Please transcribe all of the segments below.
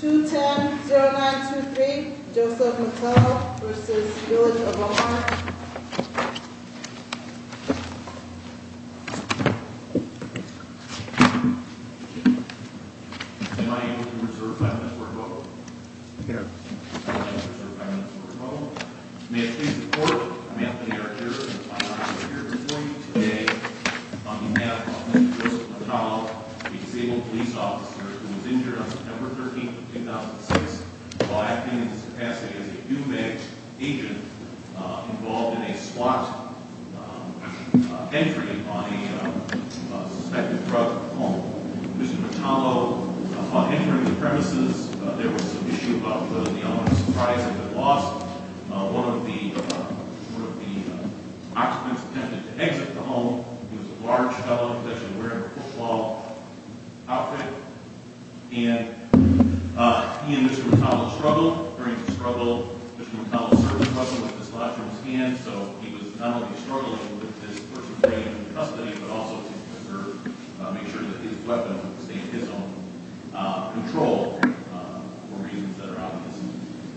210-0923 Joseph Mattallo v. Village of O'Hara May I please report, I'm Anthony Archer and it's my honor to be here before you today on behalf of Mr. Joseph Mattallo, a disabled police officer who was injured on September 13, 2006, while acting in his capacity as a HUBEC agent involved in a SWAT operation. He was injured by a suspected drug home. Mr. Mattallo, upon entering the premises, there was some issue about whether the owner of the surprise had been lost. One of the occupants attempted to exit the home. He was a large fellow, he was actually wearing a football outfit. He and Mr. Mattallo struggled. During the struggle, Mr. Mattallo served in prison with his left arm scanned, so he was not only struggling with this person being in custody, but also to make sure that his weapon was in his own control for reasons that are obvious.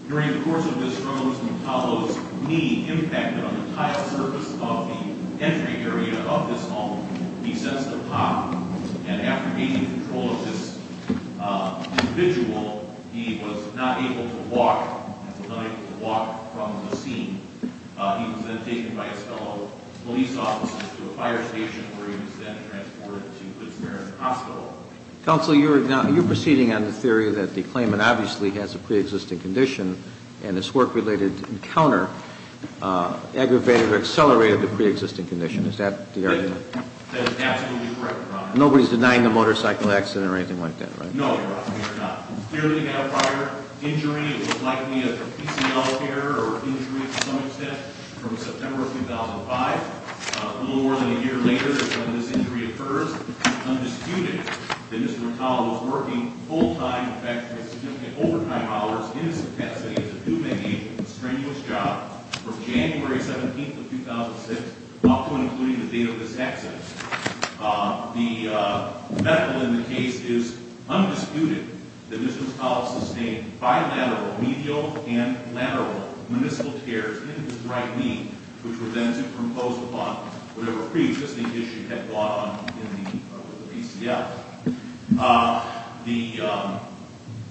During the course of this struggle, Mr. Mattallo's knee impacted on the entire surface of the entry area of this home. He sensed a pop, and after gaining control of this individual, he was not able to walk. He was not able to walk from the scene. He was then taken by his fellow police officers to a fire station, where he was then transported to Good Samaritan Hospital. Counsel, you're proceeding on the theory that the claimant obviously has a pre-existing condition, and his work-related encounter aggravated or accelerated the pre-existing condition. Is that the argument? That is absolutely correct, Your Honor. Nobody's denying a motorcycle accident or anything like that, right? No, Your Honor, we are not. He's clearly had a prior injury. It was likely a PCL error or injury to some extent from September of 2005. A little more than a year later is when this injury occurs. It's undisputed that Mr. Mattallo was working full-time, in fact, for significant overtime hours in his capacity to do, maybe, a strenuous job from January 17th of 2006, often including the date of this accident. The medical in the case is undisputed that Mr. Mattallo sustained bilateral medial and lateral meniscal tears in his right knee, which were then superimposed upon whatever pre-existing issue had brought on him in the PCL.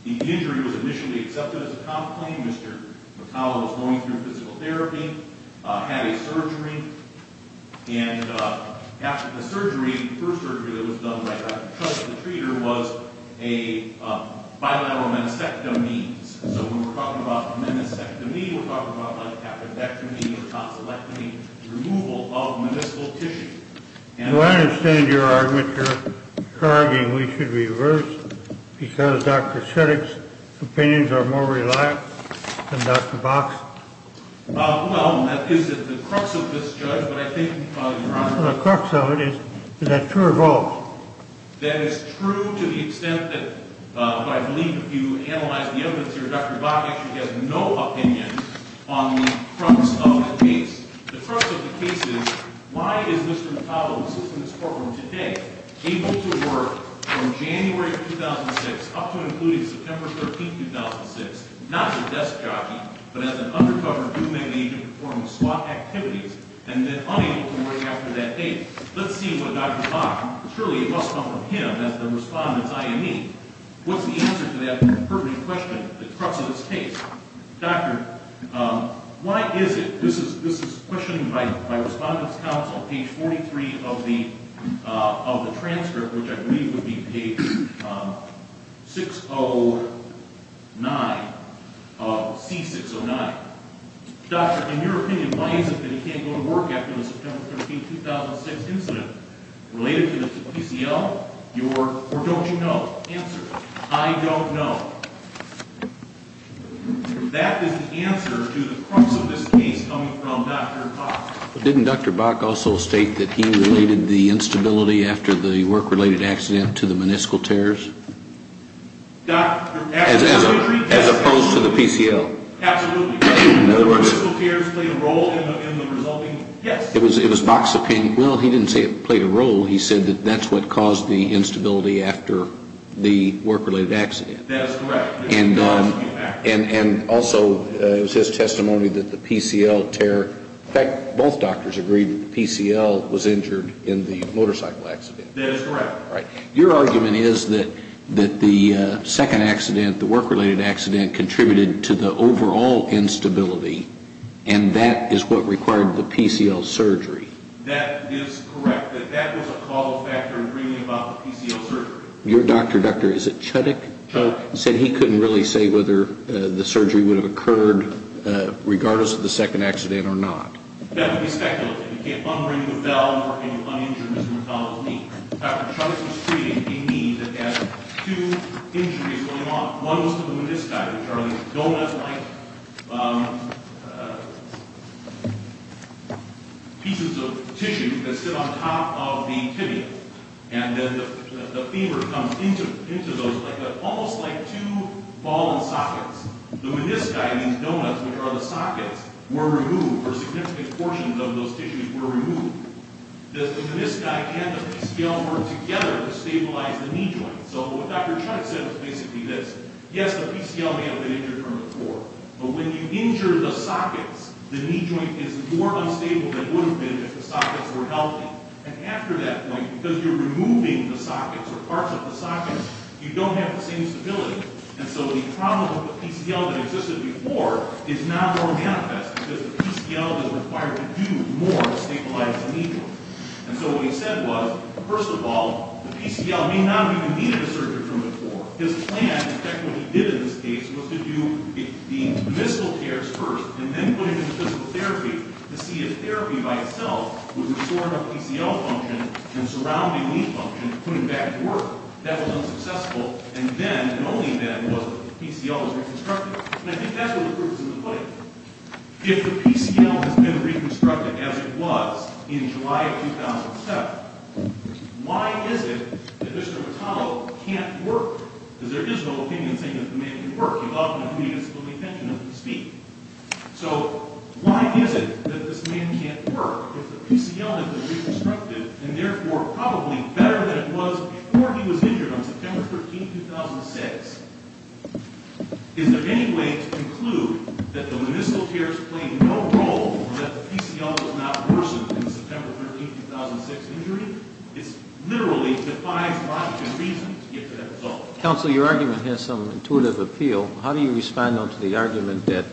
The injury was initially accepted as a complaint. Mr. Mattallo was going through physical therapy, had a surgery, and after the surgery, the first surgery that was done by Dr. Schultz, the treater, was a bilateral meniscectomy. So when we're talking about a meniscectomy, we're talking about a cathodectomy or a tonsillectomy, removal of meniscal tissue. Do I understand your argument that you're arguing that we should reverse because Dr. Schultz's opinions are more reliable than Dr. Bach's? Well, that is the crux of this, Judge, but I think... The crux of it is, is that true or false? That is true to the extent that what I believe, if you analyze the evidence here, Dr. Bach actually has no opinion on the crux of the case. The crux of the case is, why is Mr. Mattallo, who sits in this courtroom today, able to work from January of 2006 up to and including September 13, 2006, not as a desk jockey, but as an undercover human agent performing SWAT activities, and then unable to work after that date? Let's see what Dr. Bach, surely it must come from him as the respondent's IME. What's the answer to that pertinent question, the crux of this case? Doctor, why is it, this is questioning my respondent's counsel, page 43 of the transcript, which I believe would be page 609, C609. Doctor, in your opinion, why is it that he can't go to work after the September 13, 2006 incident? Related to the PCL? Or don't you know? Answer, I don't know. That is the answer to the crux of this case coming from Dr. Bach. But didn't Dr. Bach also state that he related the instability after the work-related accident to the meniscal tears? Doctor, absolutely. As opposed to the PCL. Absolutely. In other words. The meniscal tears played a role in the resulting, yes. It was Bach's opinion. Well, he didn't say it played a role. He said that that's what caused the instability after the work-related accident. That is correct. And also, it was his testimony that the PCL tear, in fact, both doctors agreed that the PCL was injured in the motorcycle accident. That is correct. Your argument is that the second accident, the work-related accident, contributed to the overall instability, and that is what required the PCL surgery. That is correct. That was a call factor in bringing about the PCL surgery. Your doctor, Doctor, is it Chudik? Chudik. He said he couldn't really say whether the surgery would have occurred regardless of the second accident or not. That would be speculative. You can't unbring the valve and you un-injure Mr. McDonnell's knee. Dr. Chudik was treating a knee that had two injuries going on. One was to the menisci, which are the donut-like pieces of tissue that sit on top of the tibia. And then the femur comes into those, almost like two ball and sockets. The menisci, these donuts, which are the sockets, were removed, or significant portions of those tissues were removed. The menisci and the PCL worked together to stabilize the knee joint. So what Dr. Chudik said was basically this. Yes, the PCL may have been injured from before, but when you injure the sockets, the knee joint is more unstable than it would have been if the sockets were healthy. And after that point, because you're removing the sockets or parts of the sockets, you don't have the same stability. And so the problem with the PCL that existed before is now more manifest, because the PCL is required to do more to stabilize the knee joint. And so what he said was, first of all, the PCL may not have even needed a surgery from before. His plan, in fact what he did in this case, was to do the meniscal cares first and then put him into physical therapy to see if therapy by itself would restore enough PCL function and surrounding knee function to put him back to work. That was unsuccessful. And then, and only then, was the PCL reconstructed. And I think that's where the proof is in the pudding. If the PCL has been reconstructed as it was in July of 2007, why is it that Mr. Vitale can't work? Because there is no opinion saying that the man can work. You'd often have to be at a disability pension if you speak. So why is it that this man can't work if the PCL has been reconstructed and, therefore, probably better than it was before he was injured on September 13, 2006? Is there any way to conclude that the meniscal cares played no role and that the PCL was not worsened in the September 13, 2006 injury? It literally defies logic and reason to get to that result. Counsel, your argument has some intuitive appeal. How do you respond, though, to the argument that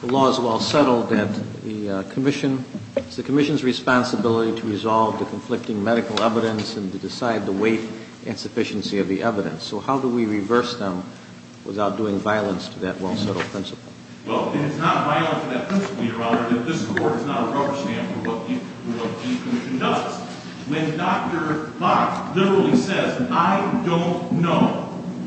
the law is well settled, that the commission, it's the commission's responsibility to resolve the conflicting medical evidence and to decide the weight and sufficiency of the evidence? So how do we reverse them without doing violence to that well-settled principle? Well, it's not violence to that principle, Your Honor, that this court is not a rubber stamp for what the commission does. When Dr. Bach literally says, I don't know,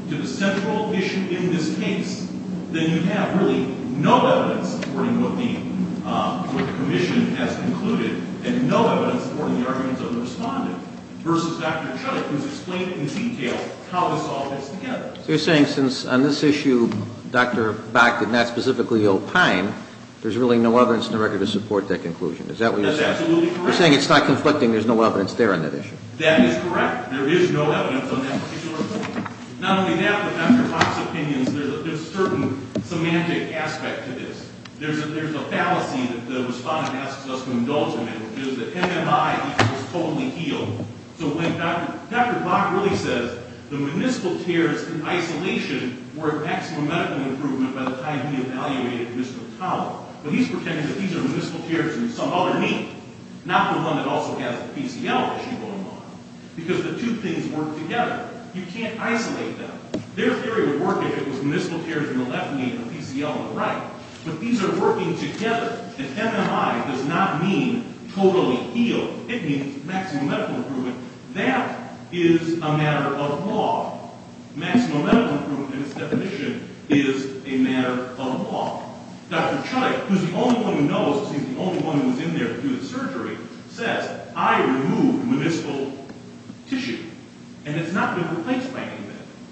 to the central issue in this case, then you have really no evidence supporting what the commission has concluded and no evidence supporting the arguments of the respondent versus Dr. Chuck, who's explained in detail how this all fits together. So you're saying since on this issue Dr. Bach did not specifically opine, there's really no evidence in the record to support that conclusion. Is that what you're saying? That's absolutely correct. You're saying it's not conflicting, there's no evidence there on that issue. That is correct. There is no evidence on that particular point. Not only that, but Dr. Bach's opinions, there's a certain semantic aspect to this. There's a fallacy that the respondent asks us to indulge in, which is that MMI equals totally healed. So when Dr. Bach really says the municipal tears in isolation were a maximum medical improvement by the time he evaluated Mr. Towell, but he's pretending that these are municipal tears in some other knee, not the one that also has a PCL issue going on, because the two things work together. You can't isolate them. Their theory would work if it was municipal tears in the left knee and a PCL in the right, but these are working together. The MMI does not mean totally healed. It means maximum medical improvement. That is a matter of law. Maximum medical improvement in its definition is a matter of law. Dr. Chuck, who's the only one who knows, who was in there to do the surgery, says, I removed municipal tissue, and it's not been replaced by anything.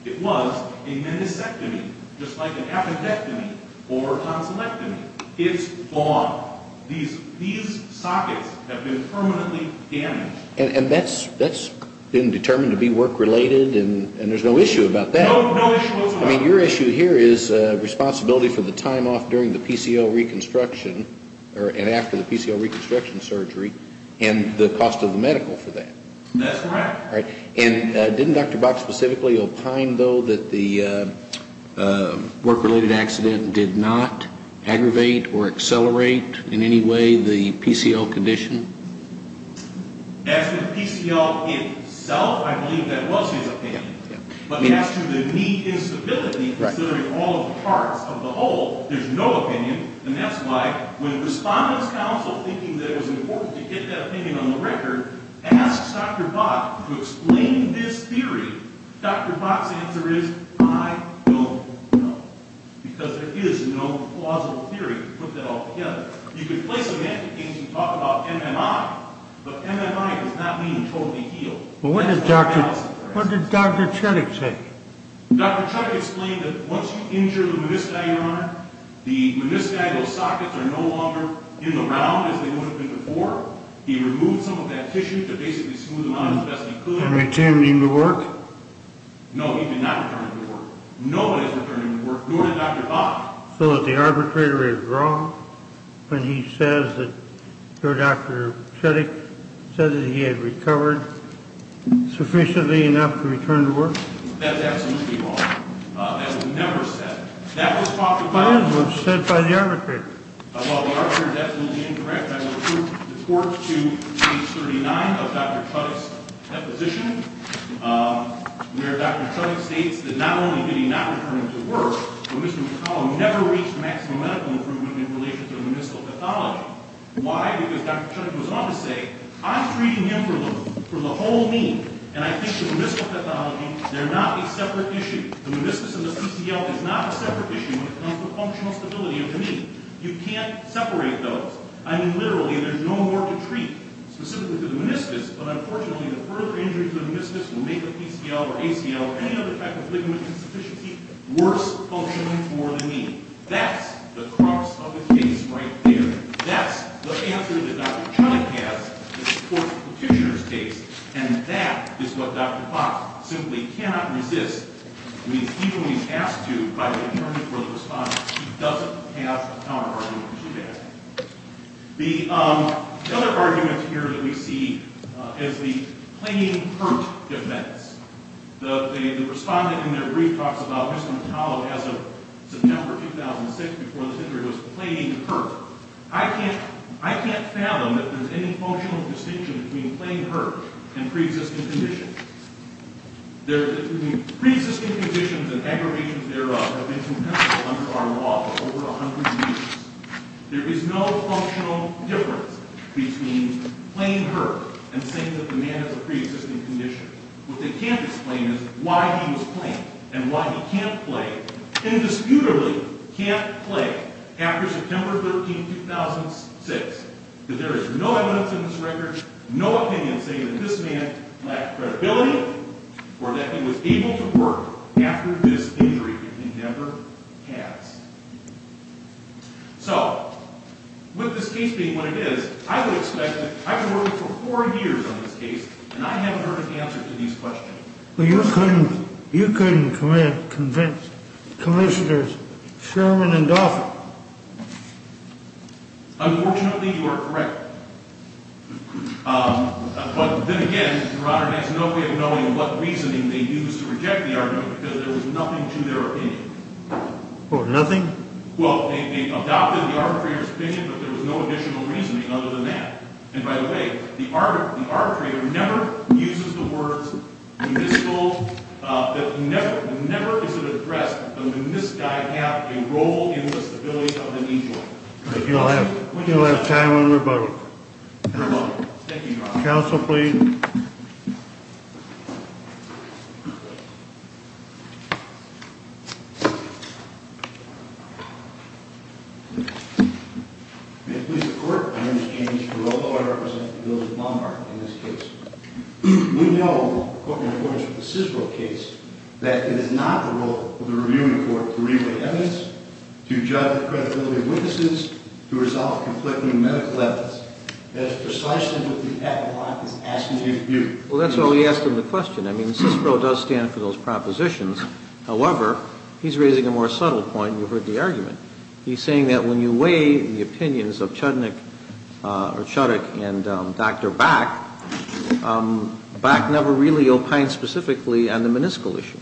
It was a meniscectomy, just like an appendectomy or a tonsillectomy. It's gone. These sockets have been permanently damaged. And that's been determined to be work-related, and there's no issue about that? No issue whatsoever. Your issue here is responsibility for the time off during the PCL reconstruction and after the PCL reconstruction surgery and the cost of the medical for that. That's correct. And didn't Dr. Bach specifically opine, though, that the work-related accident did not aggravate or accelerate in any way the PCL condition? As for the PCL itself, I believe that was his opinion. But as to the knee instability, considering all of the parts of the whole, there's no opinion, and that's why when the Respondents' Council, thinking that it was important to get that opinion on the record, asks Dr. Bach to explain this theory, Dr. Bach's answer is, I don't know, because there is no plausible theory to put that all together. You could play semantic games and talk about MMI, but MMI does not mean totally healed. Well, what did Dr. Chetik say? Dr. Chetik explained that once you injure the menisci, Your Honor, the menisci, those sockets, are no longer in the ground as they would have been before. He removed some of that tissue to basically smooth them out as best he could. And returned him to work? No, he did not return him to work. Nobody has returned him to work, nor did Dr. Bach. So the arbitrator is wrong when he says that Dr. Chetik said that he had recovered sufficiently enough to return to work? That is absolutely wrong. That was never said. That was said by the arbitrator. Well, the arbitrator is absolutely incorrect. I will report to page 39 of Dr. Chetik's deposition, where Dr. Chetik states that not only did he not return him to work, but Mr. McCollum never reached maximum medical improvement in relation to the meniscal pathology. Why? Because Dr. Chetik goes on to say, I'm treating him for the whole knee. And I think the meniscal pathology, they're not a separate issue. The meniscus and the PCL is not a separate issue when it comes to functional stability of the knee. You can't separate those. I mean, literally, there's no more to treat specifically to the meniscus. But unfortunately, the further injuries to the meniscus will make the PCL or ACL or any other type of ligament insufficiency worse for functioning for the knee. That's the crux of the case right there. That's the answer that Dr. Chetik has in support of Petitioner's case. And that is what Dr. Potts simply cannot resist. I mean, he's only asked to by the attorney for the respondent. He doesn't have a counterargument to that. The other argument here that we see is the plain hurt defense. The respondent in their brief talks about Mr. McCullough as of September 2006, before the injury was plain hurt. I can't fathom if there's any functional distinction between plain hurt and pre-existing conditions. Pre-existing conditions and aggravations thereof have been comparable under our law for over 100 years. There is no functional difference between plain hurt and saying that the man has a pre-existing condition. What they can't explain is why he was plain and why he can't play, indisputably can't play, after September 13, 2006. There is no evidence in this record, no opinion saying that this man lacked credibility or that he was able to work after this injury in Denver passed. So, with this case being what it is, I would expect, I've been working for four years on this case and I haven't heard an answer to these questions. Well, you couldn't convince commissioners Sherman and Dolphin. Unfortunately, you are correct. But then again, Your Honor, there's no way of knowing what reasoning they used to reject the argument because there was nothing to their opinion. What, nothing? Well, they adopted the arbitrator's opinion, but there was no additional reasoning other than that. And by the way, the arbitrator never uses the words municipal, never is it addressed that this guy had a role in the stability of the injury. You'll have time for rebuttal. Thank you, Your Honor. Counsel, please. May it please the Court, my name is Andy Spirogo. I represent the Bills of Lombard in this case. We know, according to the SISRO case, that it is not the role of the reviewing court to review the evidence, to judge the credibility of witnesses, to resolve conflicting medical evidence. That is precisely what the applicant is asking you to do. Well, that's a good question. That's why we asked him the question. I mean, SISRO does stand for those propositions. However, he's raising a more subtle point, and you've heard the argument. He's saying that when you weigh the opinions of Chudnik or Chudik and Dr. Bach, Bach never really opined specifically on the municipal issue.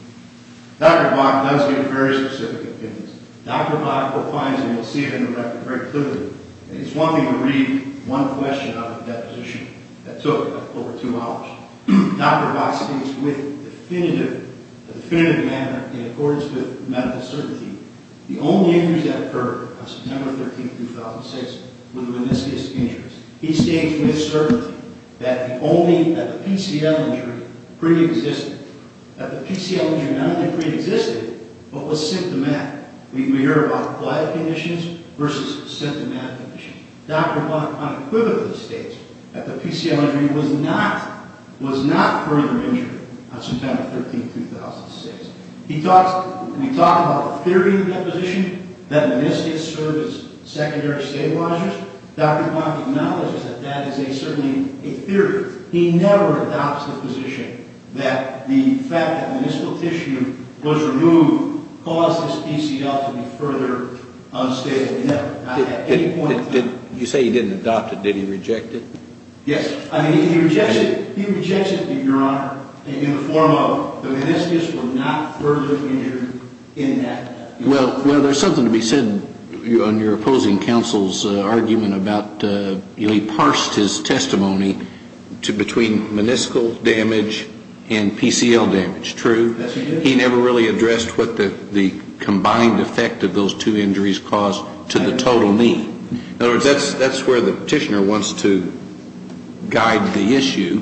Dr. Bach does give very specific opinions. Dr. Bach opines, and you'll see it in the record very clearly. It's one thing to read one question out of a deposition that took over two hours. Dr. Bach states with definitive, a definitive manner, in accordance with medical certainty, the only injuries that occurred on September 13, 2006 were the meniscus injuries. He states with certainty that the PCL injury preexisted, that the PCL injury not only preexisted, but was symptomatic. We hear about quiet conditions versus symptomatic conditions. Dr. Bach unequivocally states that the PCL injury was not further injured on September 13, 2006. We talk about a theory in the deposition that meniscus served as secondary stabilizers. Dr. Bach acknowledges that that is certainly a theory. He never adopts the position that the fact that the municipal tissue was removed caused this PCL to be further unstable. You say he didn't adopt it. Did he reject it? Yes. He rejects it, Your Honor, in the form of the meniscus was not further injured in that. Well, there's something to be said on your opposing counsel's argument about, you know, he parsed his testimony between meniscal damage and PCL damage, true? Yes, he did. He never really addressed what the combined effect of those two injuries caused to the total need. In other words, that's where the petitioner wants to guide the issue.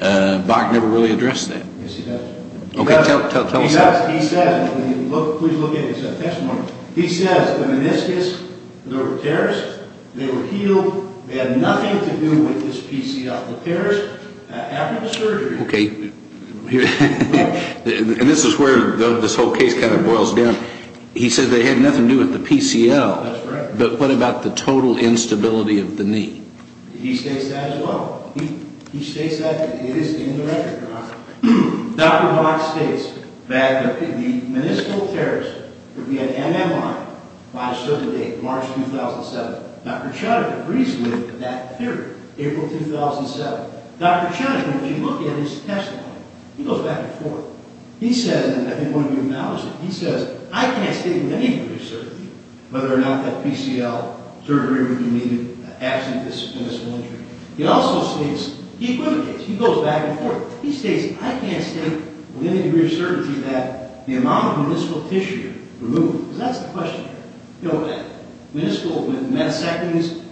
Bach never really addressed that. Yes, he does. Okay, tell us that. Please look at his testimony. He says the meniscus, the tears, they were healed. They had nothing to do with this PCL. The tears, after the surgery. Okay, and this is where this whole case kind of boils down. He says they had nothing to do with the PCL. That's right. But what about the total instability of the knee? He states that as well. He states that it is indirect, Your Honor. Dr. Bach states that the meniscal tears would be an MMI by a certain date, March 2007. Dr. Chatterjee agrees with that theory, April 2007. Dr. Chatterjee, when you look at his testimony, he goes back and forth. He says, and I think one of you acknowledged it, he says, I can't state with any degree of certainty whether or not that PCL surgery would be needed, absent this meniscal injury. He also states, he equivocates, he goes back and forth. He states, I can't state with any degree of certainty that the amount of meniscal tissue removed, because that's the question. You know, with meniscal, with menisectomies,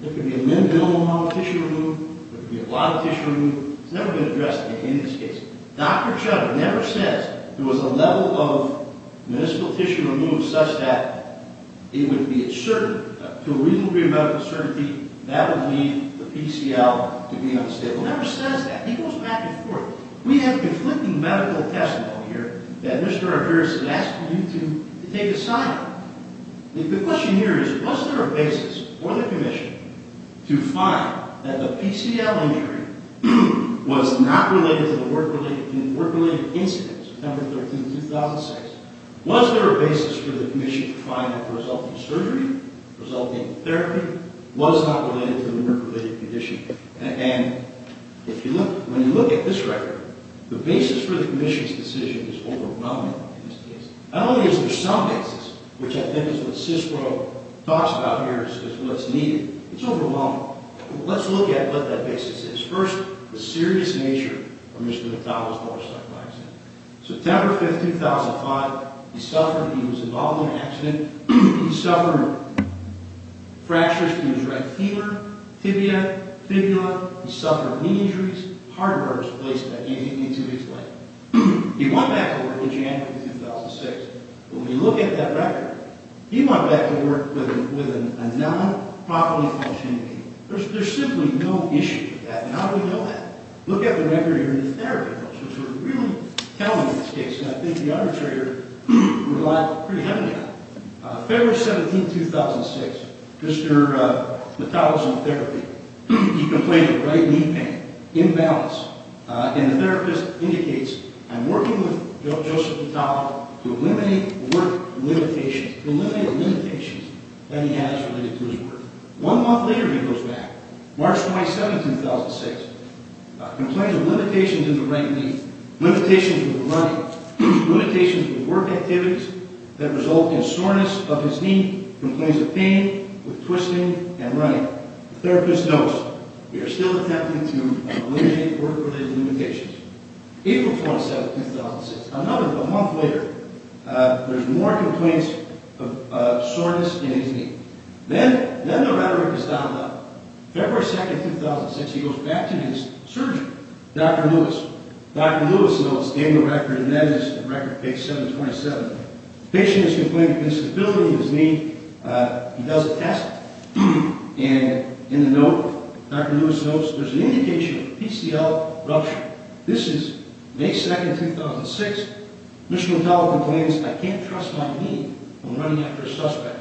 there could be a minimum amount of tissue removed. There could be a lot of tissue removed. It's never been addressed in any of these cases. Dr. Chatterjee never says there was a level of meniscal tissue removed such that it would be a certain, to a reasonable degree of medical certainty, that would lead the PCL to be unstable. He never says that. He goes back and forth. We have conflicting medical testimony here that Mr. Arvarez has asked you to take aside. The question here is, was there a basis for the commission to find that the PCL injury was not related to the work-related incident, September 13, 2006? Was there a basis for the commission to find that the resulting surgery, resulting therapy, was not related to the work-related condition? And if you look, when you look at this record, the basis for the commission's decision is overwhelming in this case. Not only is there some basis, which I think is what CISPRO talks about here as what's needed. It's overwhelming. Let's look at what that basis is. First, the serious nature of Mr. Natawa's motorcycle accident. September 5, 2005, he suffered, he was involved in an accident. He suffered fractures to his right femur, tibia, fibula. He suffered knee injuries, heartburns, at least that he didn't need to explain. He went back to work in January 2006. When we look at that record, he went back to work with a non-properly functioning vehicle. There's simply no issue with that. And how do we know that? Look at the record here in the therapy rules, which are really telling in this case. And I think the arbitrator relied pretty heavily on it. February 17, 2006, Mr. Natawa's in therapy. He complained of right knee pain, imbalance. And the therapist indicates, I'm working with Joseph Natawa to eliminate work limitations, to eliminate the limitations that he has related to his work. One month later, he goes back. March 27, 2006, complains of limitations in the right knee, limitations with running, limitations with work activities that result in soreness of his knee, complains of pain with twisting and running. The therapist knows, we are still attempting to eliminate work-related limitations. April 27, 2006, another month later, there's more complaints of soreness in his knee. Then the rhetoric is dialed up. February 2, 2006, he goes back to his surgeon, Dr. Lewis. Dr. Lewis notes, gave the record, and that is record page 727. The patient has complained of instability in his knee. He does a test. And in the note, Dr. Lewis notes, there's an indication of PCL rupture. This is May 2, 2006. Mr. Natawa complains, I can't trust my knee when running after a suspect.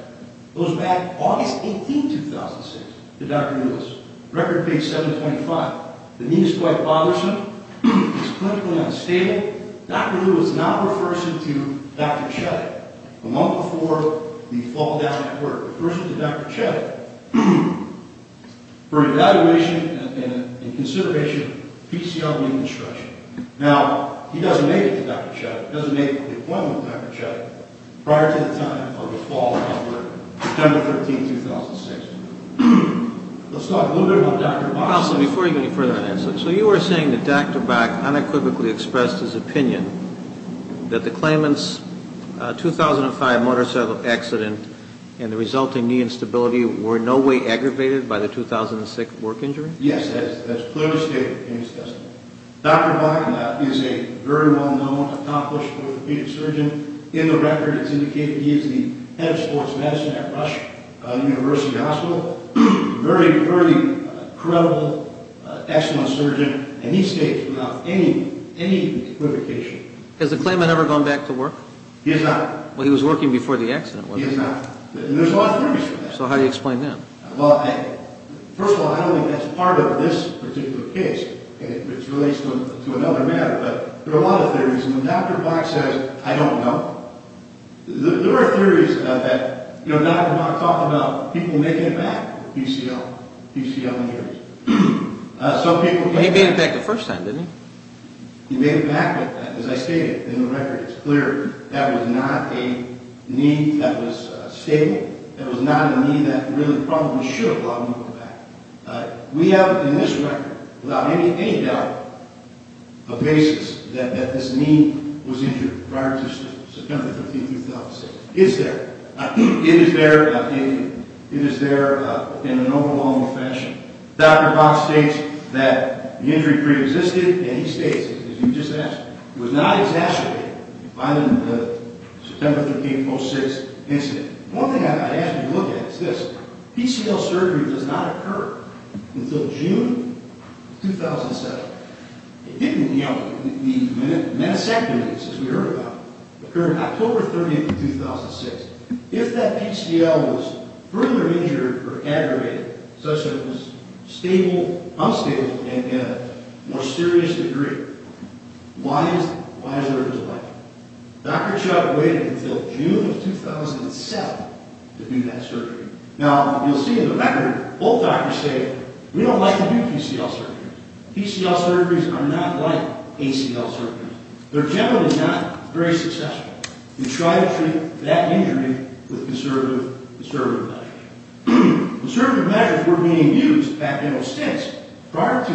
Goes back August 18, 2006, to Dr. Lewis. Record page 725. The knee is quite bothersome. It's clinically unstable. Dr. Lewis now refers him to Dr. Chetik. A month before the fall down at work, refers him to Dr. Chetik for evaluation and consideration of PCL reconstruction. Now, he doesn't make it to Dr. Chetik, doesn't make the appointment with Dr. Chetik prior to the time of the fall down at work, September 13, 2006. Let's talk a little bit about Dr. Bach. Counselor, before you go any further on that, so you are saying that Dr. Bach unequivocally expressed his opinion that the claimant's 2005 motorcycle accident and the resulting knee instability were in no way aggravated by the 2006 work injury? Yes, that's clearly stated in his testimony. Dr. Bach is a very well-known, accomplished orthopedic surgeon. In the record, it's indicated he is the head of sports medicine at Rush University Hospital. Very, very credible, excellent surgeon. And he states without any equivocation. Has the claimant ever gone back to work? He has not. Well, he was working before the accident, wasn't he? He has not. So how do you explain that? Well, first of all, I don't think that's part of this particular case. It relates to another matter, but there are a lot of theories. And when Dr. Bach says, I don't know, there are theories that Dr. Bach talked about people making it back with PCL injuries. He made it back the first time, didn't he? He made it back with that, as I stated in the record. It's clear that was not a knee that was stable. It was not a knee that really probably should have allowed him to go back. We have in this record, without any doubt, a basis that this knee was injured prior to September 13, 2006. It is there. It is there in an overwhelming fashion. Dr. Bach states that the injury preexisted, and he states, as you just asked, it was not exacerbated by the September 13, 2006 incident. One thing I ask you to look at is this. PCL surgery does not occur until June 2007. It didn't, you know, the menisectomy, as we heard about, occurred October 30, 2006. If that PCL was further injured or aggravated, such that it was unstable and in a more serious degree, why is there a delay? Dr. Chuck waited until June of 2007 to do that surgery. Now, you'll see in the record, both doctors say, we don't like to do PCL surgeries. PCL surgeries are not like ACL surgeries. They're generally not very successful. We try to treat that injury with conservative measures. Conservative measures were being used back, you know, since prior to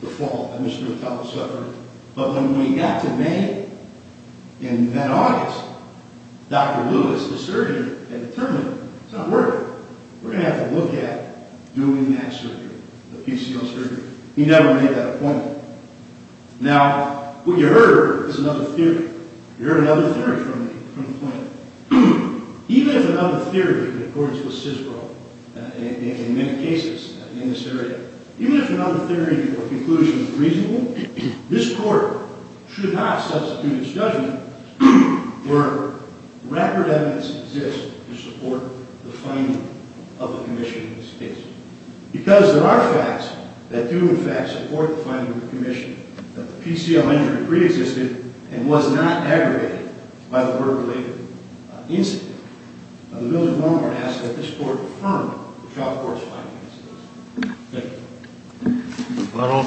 the fall of Mr. Mattel's suffering. But when we got to May and then August, Dr. Lewis, the surgeon, had determined it's not working. We're going to have to look at doing that surgery, the PCL surgery. He never made that appointment. Now, what you heard is another theory. You heard another theory from the clinic. Even if another theory, in accordance with CISRO, in many cases in this area, even if another theory or conclusion is reasonable, this court should not substitute its judgment where record evidence exists to support the finding of a commission in this case. Because there are facts that do, in fact, support the finding of the commission that the PCL injury preexisted and was not aggravated by the murder-related incident. The bill is no longer to ask that this court affirm the trial court's findings. Thank you. Mr. Butler.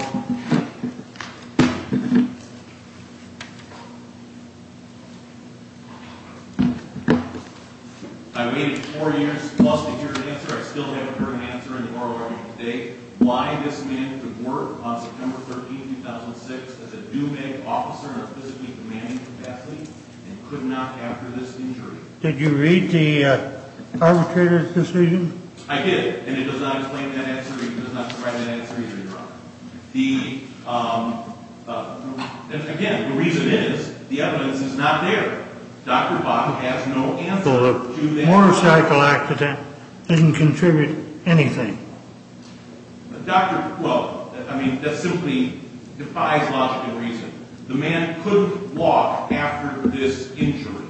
I waited four years plus to hear an answer. I still haven't heard an answer in the oral argument today. Why this man could work on September 13, 2006 as a do-bag officer in a physically demanding capacity and could not after this injury. Did you read the arbitrator's decision? I did, and it does not explain that answer either. It does not provide that answer either, Your Honor. Again, the reason is the evidence is not there. Dr. Bach has no answer to that. The motorcycle accident didn't contribute anything. Well, I mean, that simply defies logic and reason. The man couldn't walk after this injury.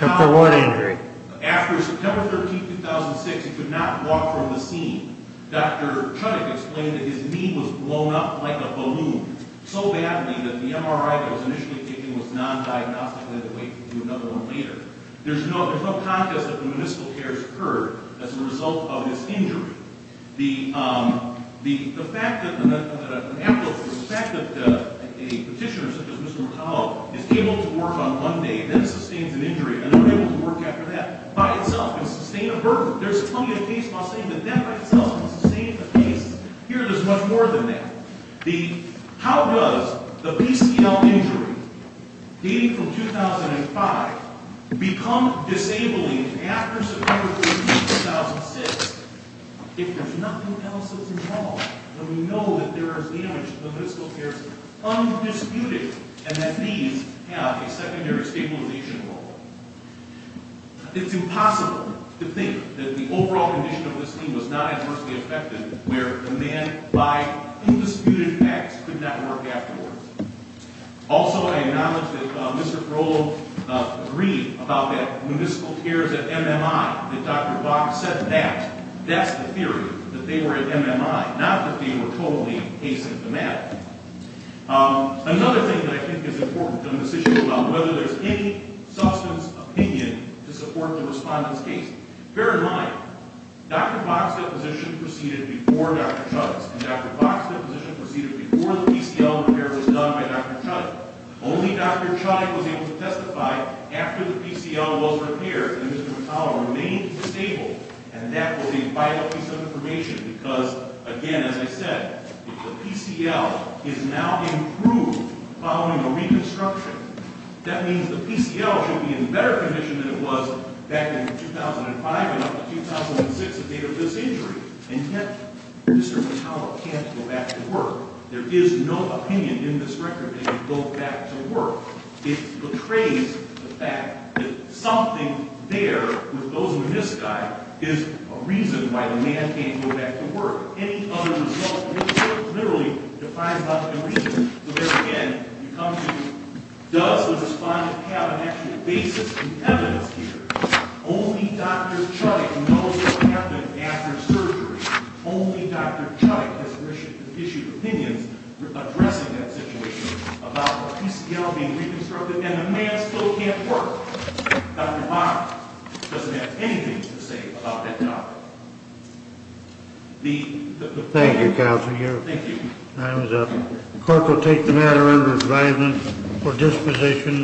After what injury? After September 13, 2006, he could not walk from the scene. Dr. Chudik explained that his knee was blown up like a balloon so badly that the MRI that was initially taken was non-diagnostic and had to wait to do another one later. There's no context that the municipal cares occurred as a result of this injury. The fact that a petitioner such as Mr. McCullough is able to work on one day and then sustains an injury and is able to work after that by itself and sustain a burden, there's plenty of case law saying that that by itself will sustain the case. Here there's much more than that. How does the PCL injury dating from 2005 become disabling after September 13, 2006 if there's nothing else that's involved, and we know that there is damage to the municipal cares undisputed and that these have a secondary stabilization role? It's impossible to think that the overall condition of this knee was not adversely affected where the man by undisputed acts could not work afterwards. Also, I acknowledge that Mr. Carollo agreed about that municipal cares at MMI, that Dr. Bach said that. That's the theory, that they were at MMI, not that they were totally asymptomatic. Another thing that I think is important on this issue about whether there's any substance opinion to support the respondent's case. Bear in mind, Dr. Bach's deposition proceeded before Dr. Chuttick's, and Dr. Bach's deposition proceeded before the PCL repair was done by Dr. Chuttick. Only Dr. Chuttick was able to testify after the PCL was repaired and Mr. McCullough remained stable, and that was a vital piece of information because, again, as I said, the PCL is now improved following a reconstruction. That means the PCL should be in better condition than it was back in 2005 and up to 2006 at the date of this injury. And yet, Mr. McCullough can't go back to work. There is no opinion in this record that he can go back to work. It betrays the fact that something there with those who misguide is a reason why the man can't go back to work. Any other result in this court literally defines that as a reason. So there again, you come to does the respondent have an actual basis and evidence here? Only Dr. Chuttick knows what happened after surgery. Only Dr. Chuttick has issued opinions addressing that situation about the PCL being reconstructed and the man still can't work. Dr. Mark doesn't have anything to say about that topic. Thank you, Counselor. Thank you. Time is up. The court will take the matter under advisement for disposition.